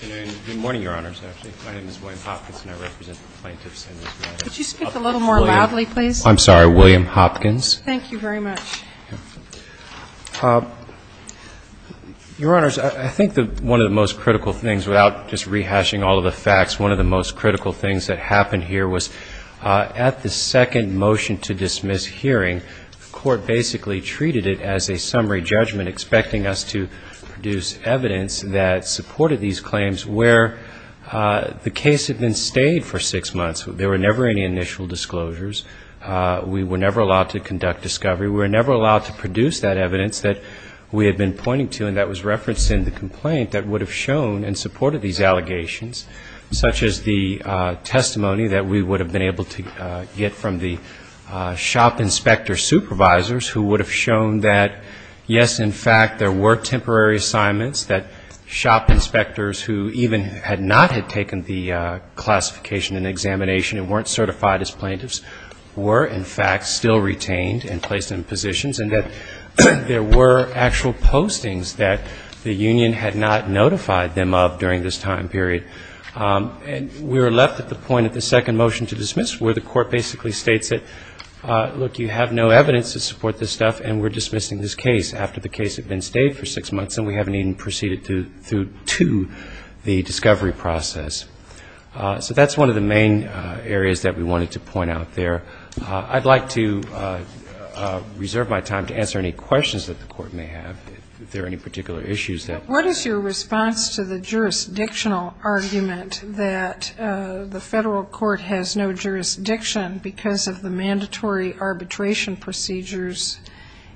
Good morning, Your Honors. Actually, my name is William Hopkins and I represent the plaintiffs in this case. Could you speak a little more loudly, please? I'm sorry, William Hopkins. Thank you very much. Your Honors, I think that one of the most critical things, without just rehashing all of the facts, one of the most critical things that happened here was at the second motion to dismiss hearing, the Court basically treated it as a summary judgment expecting us to produce evidence that supported these claims where the case had been stayed for six months. There were never any initial disclosures. We were never allowed to conduct discovery. We were never allowed to produce that evidence that we had been pointing to and that was referenced in the complaint that would have shown and supported these allegations, such as the testimony that we would have been able to get from the shop inspector supervisors who would have shown that, yes, in fact, there were temporary assignments that shop inspectors who even had not had taken the classification and examination and weren't certified as plaintiffs were, in fact, still retained and placed in positions and that there were actual postings that the union had not notified them of during this time period. And we were left at the point at the second motion to dismiss where the Court basically states that, look, you have no evidence to support this stuff and we're dismissing this case after the case had been stayed for six months and we haven't even proceeded to the discovery process. So that's one of the main areas that we wanted to point out there. I'd like to reserve my time to answer any questions that the Court may have, if there are any particular issues. What is your response to the jurisdictional argument that the federal court has no jurisdiction because of the mandatory arbitration procedures,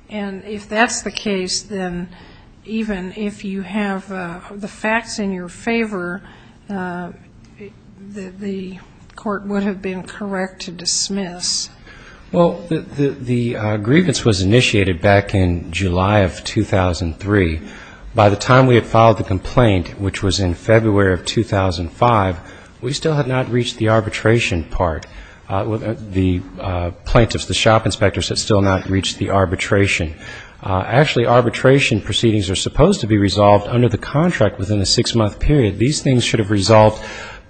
and if that's the case, then even if you have the facts in your favor, the Court would have been correct to dismiss? Well, the grievance was initiated back in July of 2003. By the time that the court had filed the complaint, which was in February of 2005, we still had not reached the arbitration part. The plaintiffs, the shop inspectors had still not reached the arbitration. Actually, arbitration proceedings are supposed to be resolved under the contract within the six-month period. These things should have resolved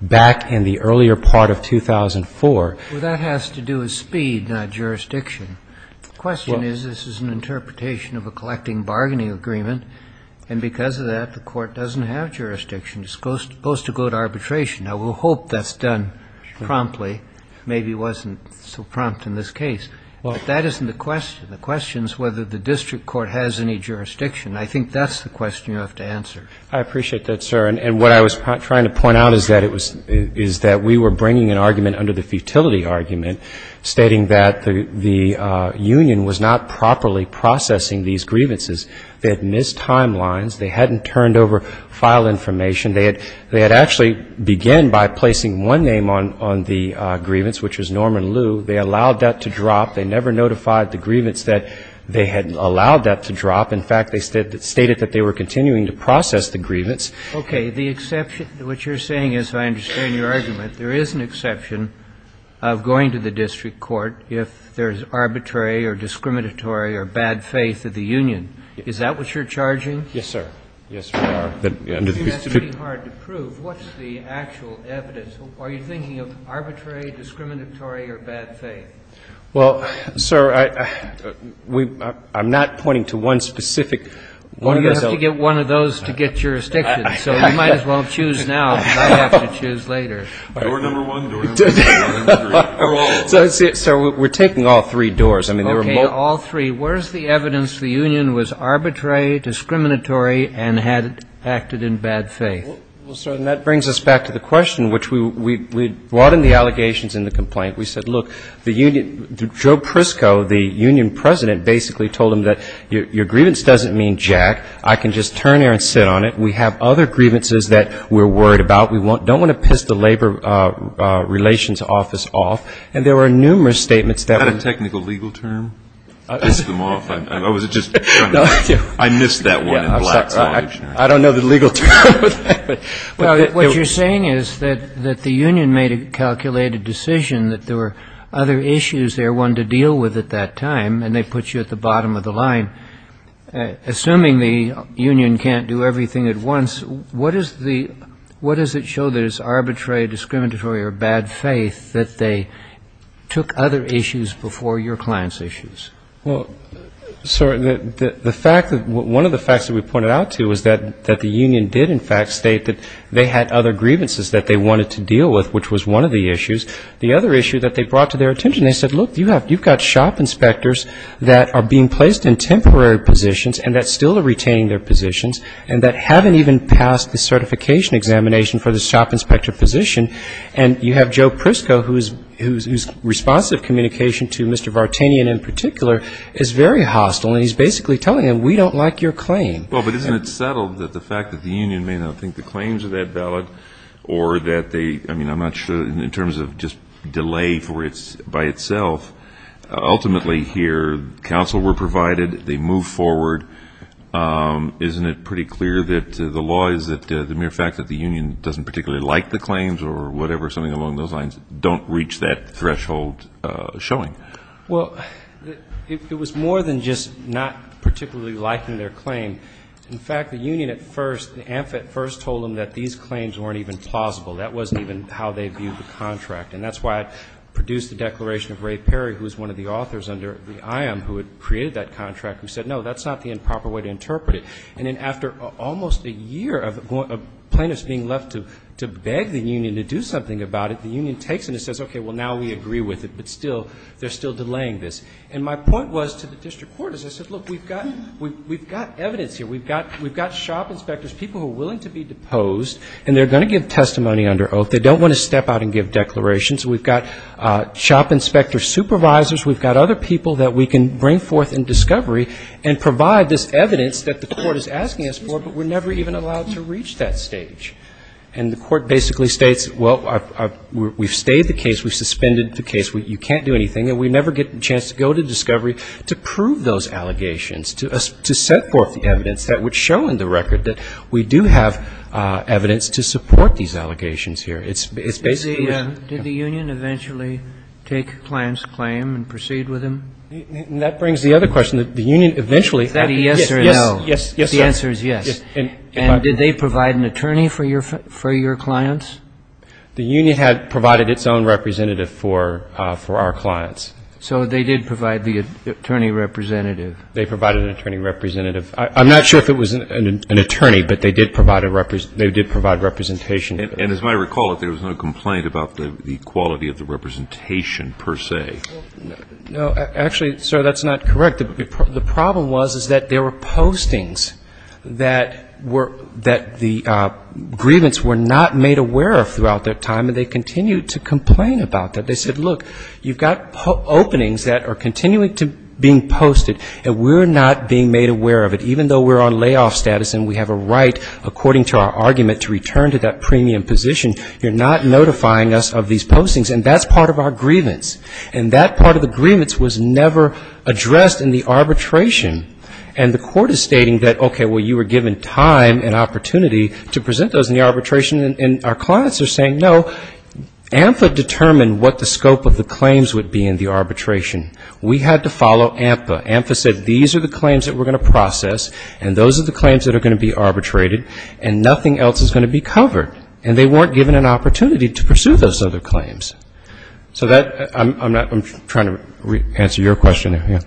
back in the earlier part of 2004. Well, that has to do with speed, not jurisdiction. The question is, this is an interpretation of a collecting bargaining agreement, and because of that, the court doesn't have jurisdiction. It's supposed to go to arbitration. Now, we'll hope that's done promptly. Maybe it wasn't so prompt in this case. But that isn't the question. The question is whether the district court has any jurisdiction. I think that's the question you have to answer. I appreciate that, sir. And what I was trying to point out is that we were bringing an exception to these grievances. They had missed timelines. They hadn't turned over file information. They had actually began by placing one name on the grievance, which was Norman Liu. They allowed that to drop. They never notified the grievance that they had allowed that to drop. In fact, they stated that they were continuing to process the grievance. Okay. The exception to what you're saying, as I understand your argument, there is an exception of going to the district court if there's arbitrary or discriminatory or bad faith of the union. Is that what you're charging? Yes, sir. Yes, we are. I think that's pretty hard to prove. What's the actual evidence? Are you thinking of arbitrary, discriminatory, or bad faith? Well, sir, I'm not pointing to one specific. Well, you have to get one of those to get jurisdiction. So you might as well choose now because I'll have to choose later. Door number one, door number two, door number three. So we're taking all three doors. Okay. All three. Where's the evidence the union was arbitrary, discriminatory, and had acted in bad faith? Well, sir, and that brings us back to the question, which we brought in the allegations in the complaint. We said, look, the union, Joe Prisco, the union president, basically told them that your grievance doesn't mean jack. I can just turn here and sit on it. We have other grievances that we're worried about. We don't want to piss the Labor Relations Office off. And there were numerous statements that were technical legal term. Piss them off. I missed that one in black and white. I don't know the legal term. What you're saying is that the union made a calculated decision that there were other issues they wanted to deal with at that time, and they put you at the bottom of the line. Assuming the union can't do everything at once, what does it show that is arbitrary, discriminatory, or bad faith that they took other issues before your client's issues? Well, sir, the fact that one of the facts that we pointed out to is that the union did, in fact, state that they had other grievances that they wanted to deal with, which was one of the issues. The other issue that they brought to their attention, they said, look, you've got shop inspectors that are being placed in temporary positions and that still are retaining their positions and that haven't even passed the certification examination for the shop inspector position. And you have Joe Prisco, whose responsive communication to Mr. Vartanian in particular is very hostile, and he's basically telling him, we don't like your claim. Well, but isn't it settled that the fact that the union may not think the claims of that ballot or that they, I mean, I'm not sure, in terms of just delay by itself, ultimately here, counsel were provided, they moved forward. Isn't it pretty clear that the law is that the mere fact that the union doesn't particularly like the claims or whatever, something along those lines, don't reach that threshold showing? Well, it was more than just not particularly liking their claim. In fact, the union at first, the AMFET first told them that these claims weren't even plausible. That wasn't even how they viewed the contract. And that's why it produced the declaration of Ray Perry, who was one of the authors under the IOM who had created that contract, who said, no, that's not the improper way to interpret it. And then after almost a year of plaintiffs being left to beg the union to do something about it, the union takes it and says, okay, well, now we agree with it. But still, they're still delaying this. And my point was to the district court is I said, look, we've got evidence here. We've got shop inspectors, people who are willing to be deposed, and they're going to give testimony under oath. They don't want to step out and give declarations. We've got shop inspector supervisors. We've got other people that we can bring forth in discovery and provide this evidence that the court is asking us for, but we're never even allowed to reach that stage. And the court basically states, well, we've stayed the case. We've suspended the case. You can't do anything. And we never get a chance to go to discovery to prove those allegations, to set forth the evidence that would show in the record that we do have evidence to support these allegations here. It's basically Kagan. Did the union eventually take a client's claim and proceed with him? And that brings the other question, that the union eventually. Is that a yes or no? Yes, sir. The answer is yes. And did they provide an attorney for your clients? The union had provided its own representative for our clients. So they did provide the attorney representative. They provided an attorney representative. I'm not sure if it was an attorney, but they did provide representation. And as I recall, there was no complaint about the quality of the representation per se. No. Actually, sir, that's not correct. The problem was that there were postings that the grievance were not made aware of throughout that time, and they continued to complain about that. They said, look, you've got openings that are continuing to be posted, and we're not being made aware of it. Even though we're on layoff status and we have a right, according to our argument, to return to that premium position, you're not notifying us of these postings. And that's part of our grievance. And that part of the grievance was never addressed in the arbitration. And the court is stating that, okay, well, you were given time and opportunity to present those in the arbitration, and our clients are saying, no, AMFA determined what the scope of the claims would be in the arbitration. We had to follow AMFA. AMFA said these are the claims that we're going to process, and those are the claims that are going to be arbitrated, and nothing else is going to be covered. And they weren't given an opportunity to pursue those other claims. So I'm trying to answer your question here.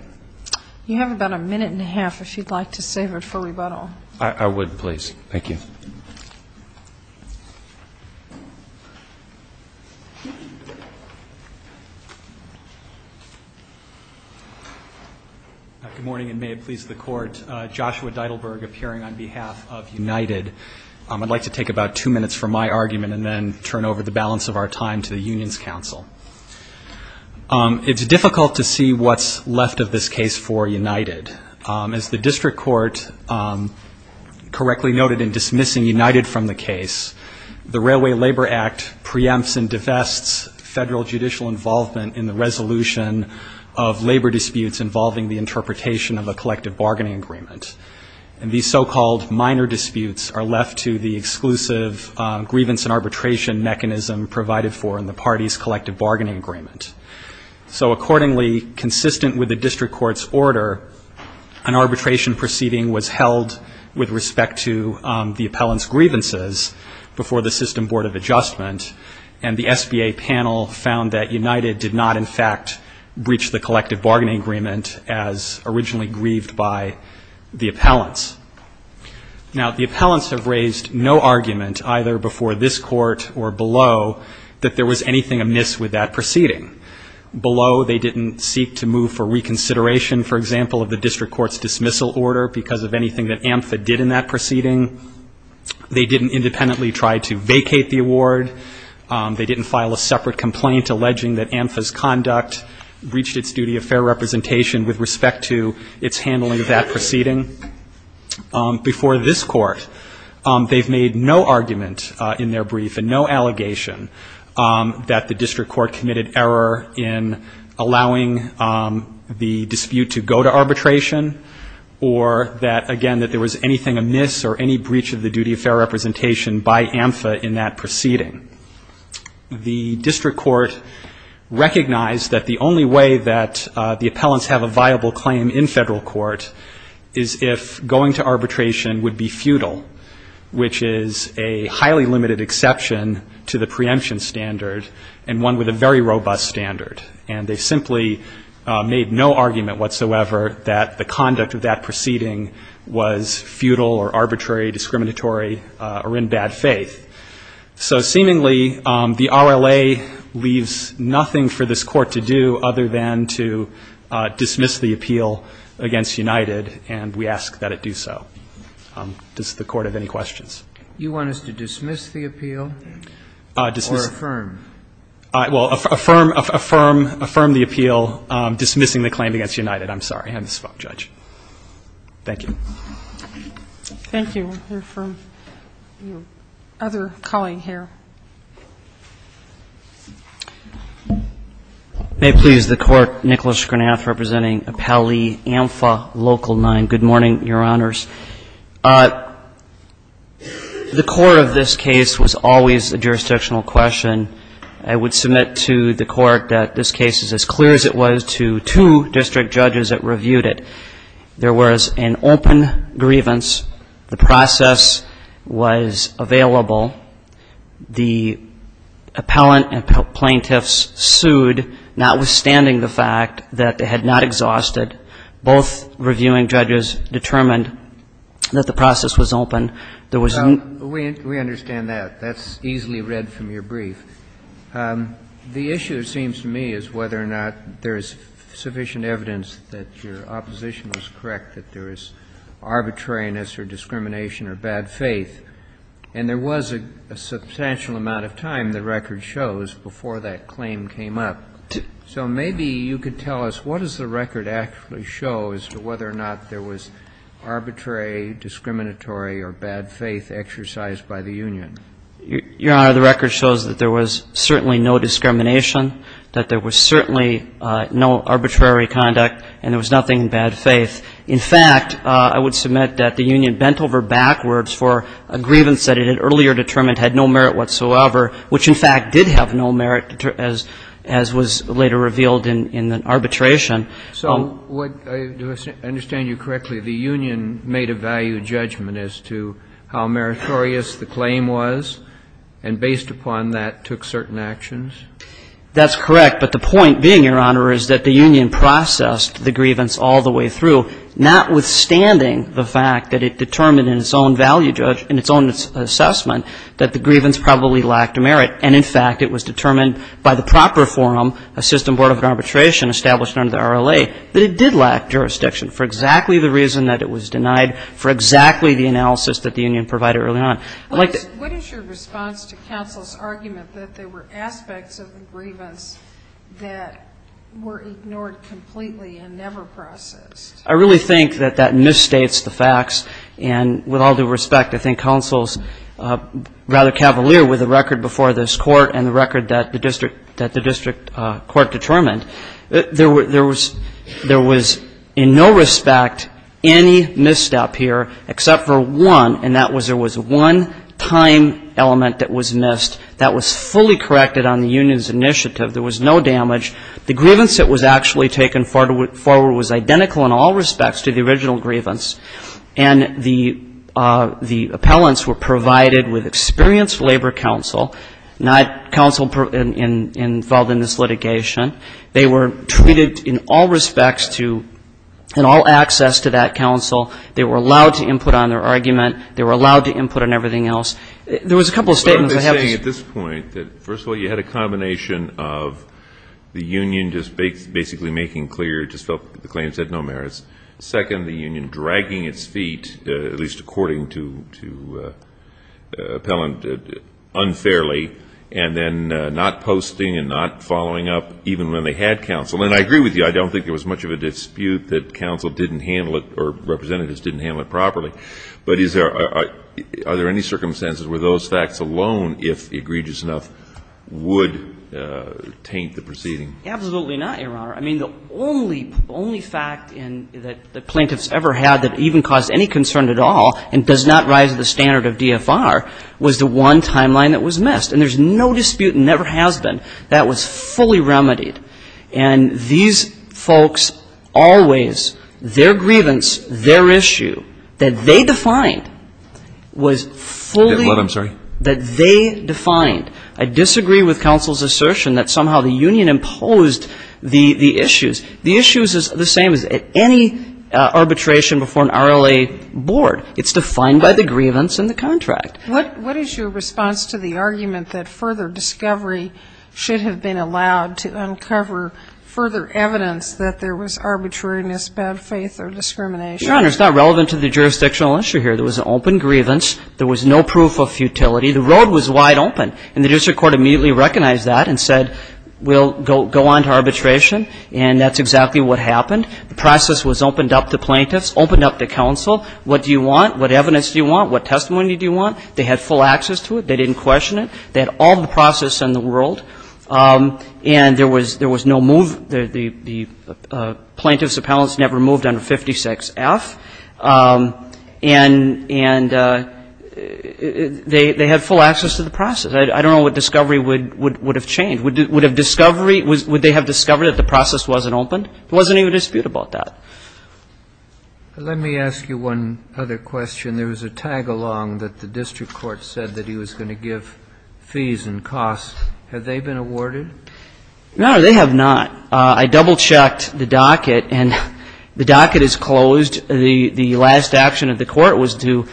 You have about a minute and a half if you'd like to save it for rebuttal. I would, please. Thank you. Good morning, and may it please the Court. Joshua Deidelberg appearing on behalf of United. I'd like to take about two minutes from my argument and then turn over the balance of our time to the Unions Council. It's difficult to see what's left of this case for United. As the district court correctly noted in dismissing United from the case, the Railway Labor Act preempts and divests federal judicial involvement in the resolution of labor disputes involving the interpretation of a collective bargaining agreement. And these so-called minor disputes are left to the exclusive grievance and arbitration mechanism provided for in the party's collective bargaining agreement. So accordingly, consistent with the district court's order, an arbitration proceeding was held with respect to the appellant's grievances before the System Board of Adjustment, and the SBA panel found that United did not, in fact, breach the collective bargaining agreement as originally grieved by the appellants. Now, the appellants have raised no argument, either before this court or below, that there was anything amiss with that proceeding. Below, they didn't seek to move for reconsideration, for example, of the district court's dismissal order because of anything that AMFA did in that proceeding. They didn't independently try to vacate the award. They didn't file a separate complaint alleging that AMFA's conduct reached its duty of fair representation with respect to its handling of that proceeding. Before this court, they've made no argument in their brief and no allegation that the district court committed error in allowing the dispute to go to arbitration or that, again, that there was anything amiss or any breach of the duty of fair representation by AMFA in that proceeding. The district court recognized that the only way that the appellants have a viable claim in federal court is if going to arbitration would be futile, which is a highly limited exception to the preemption standard and one with a very robust standard. And they simply made no argument whatsoever that the conduct of that proceeding was futile or arbitrary, discriminatory, or in bad faith. So seemingly, the RLA leaves nothing for this court to do other than to dismiss the appeal against united and we ask that it do so. Does the court have any questions? You want us to dismiss the appeal or affirm? Well, affirm, affirm, affirm the appeal dismissing the claim against united. I'm sorry. I have this phone, Judge. Thank you. Thank you. We'll hear from your other colleague here. May it please the Court. Thank you, Your Honor. Nicholas Gronath representing Appellee AMFA Local 9. Good morning, Your Honors. The core of this case was always a jurisdictional question. I would submit to the Court that this case is as clear as it was to two district judges that reviewed it. There was an open grievance. The process was available. The appellant and plaintiffs sued, notwithstanding the fact that they had not exhausted. Both reviewing judges determined that the process was open. There was no ---- We understand that. That's easily read from your brief. The issue, it seems to me, is whether or not there is sufficient evidence that your opposition was correct, that there is arbitrariness or discrimination or bad faith. And there was a substantial amount of time, the record shows, before that claim came up. So maybe you could tell us what does the record actually show as to whether or not there was arbitrary, discriminatory or bad faith exercised by the union? Your Honor, the record shows that there was certainly no discrimination, that there was certainly no arbitrary conduct, and there was nothing in bad faith. In fact, I would submit that the union bent over backwards for a grievance that it had earlier determined had no merit whatsoever, which, in fact, did have no merit, as was later revealed in the arbitration. So what do I understand you correctly, the union made a value judgment as to how meritorious the claim was and, based upon that, took certain actions? That's correct. But the point being, Your Honor, is that the union processed the grievance all the way through, notwithstanding the fact that it determined in its own value judgment, in its own assessment, that the grievance probably lacked merit. And, in fact, it was determined by the proper forum, a system board of arbitration established under the RLA, that it did lack jurisdiction for exactly the reason that it was denied, for exactly the analysis that the union provided early on. I'd like to ---- I'd like to go back to counsel's argument that there were aspects of the grievance that were ignored completely and never processed. I really think that that misstates the facts, and with all due respect, I think counsel's rather cavalier with the record before this Court and the record that the district court determined. There was in no respect any misstep here, except for one, and that was there was one time element that was missed that was fully corrected on the union's initiative. There was no damage. The grievance that was actually taken forward was identical in all respects to the original grievance, and the appellants were provided with experienced labor counsel, not counsel involved in this litigation. They were treated in all respects to and all access to that counsel. They were allowed to input on their argument. They were allowed to input on everything else. There was a couple of statements that have to be ---- But are they saying at this point that, first of all, you had a combination of the union just basically making clear, just felt the claimants had no merits, second, the union dragging its feet, at least according to Appellant, unfairly, and then not posting and not following up even when they had counsel. And I agree with you. I don't think there was much of a dispute that counsel didn't handle it or representatives didn't handle it properly. But is there ---- are there any circumstances where those facts alone, if egregious enough, would taint the proceeding? Absolutely not, Your Honor. I mean, the only ---- the only fact that the plaintiffs ever had that even caused any concern at all and does not rise to the standard of DFR was the one timeline that was missed. And there's no dispute and never has been that was fully remedied. And these folks always, their grievance, their issue that they defined was fully ---- I'm sorry. ---- that they defined. I disagree with counsel's assertion that somehow the union imposed the issues. The issues is the same as any arbitration before an RLA board. It's defined by the grievance and the contract. What is your response to the argument that further discovery should have been allowed to uncover further evidence that there was arbitrariness, bad faith or discrimination? Your Honor, it's not relevant to the jurisdictional issue here. There was an open grievance. There was no proof of futility. The road was wide open. And the district court immediately recognized that and said we'll go on to arbitration and that's exactly what happened. The process was opened up to plaintiffs, opened up to counsel. What do you want? What evidence do you want? What testimony do you want? They had full access to it. They didn't question it. They had all the process in the world. And there was no move. The plaintiffs' appellants never moved under 56F. And they had full access to the process. I don't know what discovery would have changed. Would they have discovered that the process wasn't opened? There wasn't any dispute about that. Let me ask you one other question. There was a tag along that the district court said that he was going to give fees and costs. Have they been awarded? No, they have not. I double-checked the docket and the docket is closed. The last action of the court was to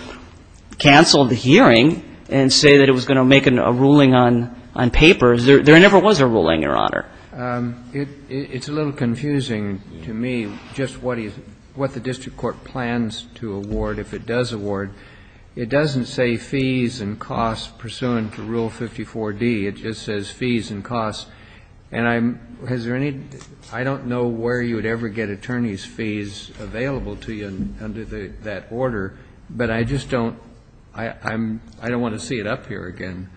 cancel the hearing and say that it was going to make a ruling on papers. There never was a ruling, Your Honor. It's a little confusing to me just what the district court plans to award if it does award. It doesn't say fees and costs pursuant to Rule 54D. It just says fees and costs. And I'm ñ has there any ñ I don't know where you would ever get attorney's fees available to you under that order. But I just don't ñ I don't want to see it up here again.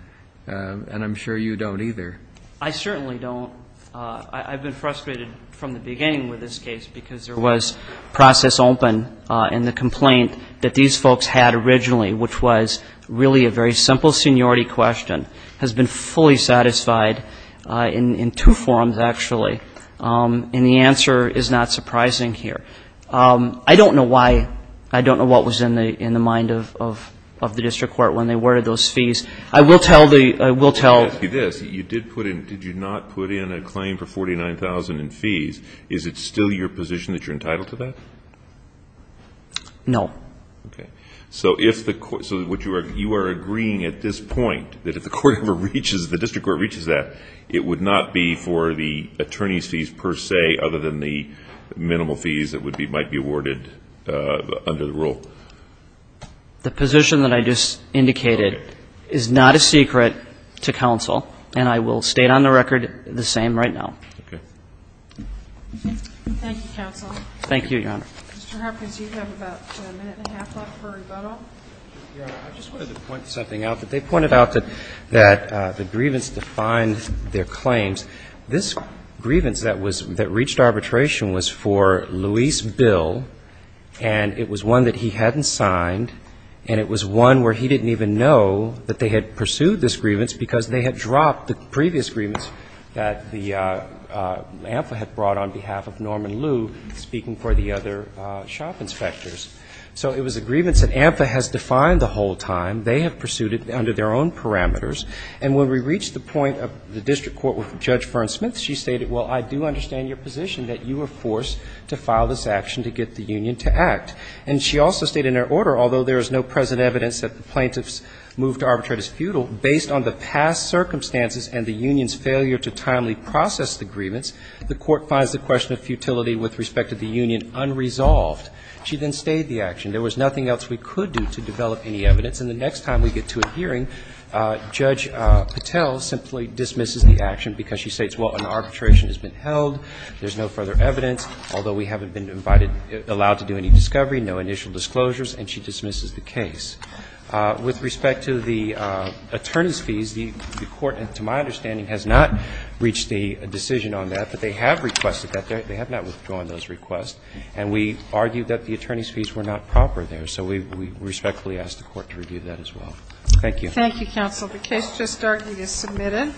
And I'm sure you don't either. I certainly don't. I've been frustrated from the beginning with this case because there was process open and the complaint that these folks had originally, which was really a very simple seniority question, has been fully satisfied in two forms, actually. And the answer is not surprising here. I don't know why ñ I don't know what was in the mind of the district court when they awarded those fees. I will tell the ñ I will tell ñ Let me ask you this. You did put in ñ did you not put in a claim for 49,000 in fees? Is it still your position that you're entitled to that? No. Okay. So if the ñ so what you are ñ you are agreeing at this point that if the court ever reaches ñ the district court reaches that, it would not be for the attorney's fees per se other than the minimal fees that would be ñ might be awarded under the rule? The position that I just indicated is not a secret to counsel. And I will state on the record the same right now. Okay. Thank you, counsel. Thank you, Your Honor. Mr. Hopkins, you have about a minute and a half left for rebuttal. Your Honor, I just wanted to point something out. They pointed out that the grievance defined their claims. This grievance that was ñ that reached arbitration was for Luis Bill, and it was one that he hadn't signed, and it was one where he didn't even know that they had pursued this grievance because they had dropped the previous grievance that the AMFA had brought on behalf of Norman Liu speaking for the other shop inspectors. So it was a grievance that AMFA has defined the whole time. They have pursued it under their own parameters. And when we reached the point of the district court with Judge Fern Smith, she stated, well, I do understand your position that you were forced to file this action to get the union to act. And she also stated in her order, although there is no present evidence that the based on the past circumstances and the union's failure to timely process the grievance, the court finds the question of futility with respect to the union unresolved. She then stayed the action. There was nothing else we could do to develop any evidence. And the next time we get to a hearing, Judge Patel simply dismisses the action because she states, well, an arbitration has been held, there's no further evidence, although we haven't been invited ñ allowed to do any discovery, no initial disclosures, and she dismisses the case. With respect to the attorney's fees, the court, to my understanding, has not reached a decision on that. But they have requested that. They have not withdrawn those requests. And we argue that the attorney's fees were not proper there. So we respectfully ask the court to review that as well. Thank you. Thank you, counsel. The case just started is submitted.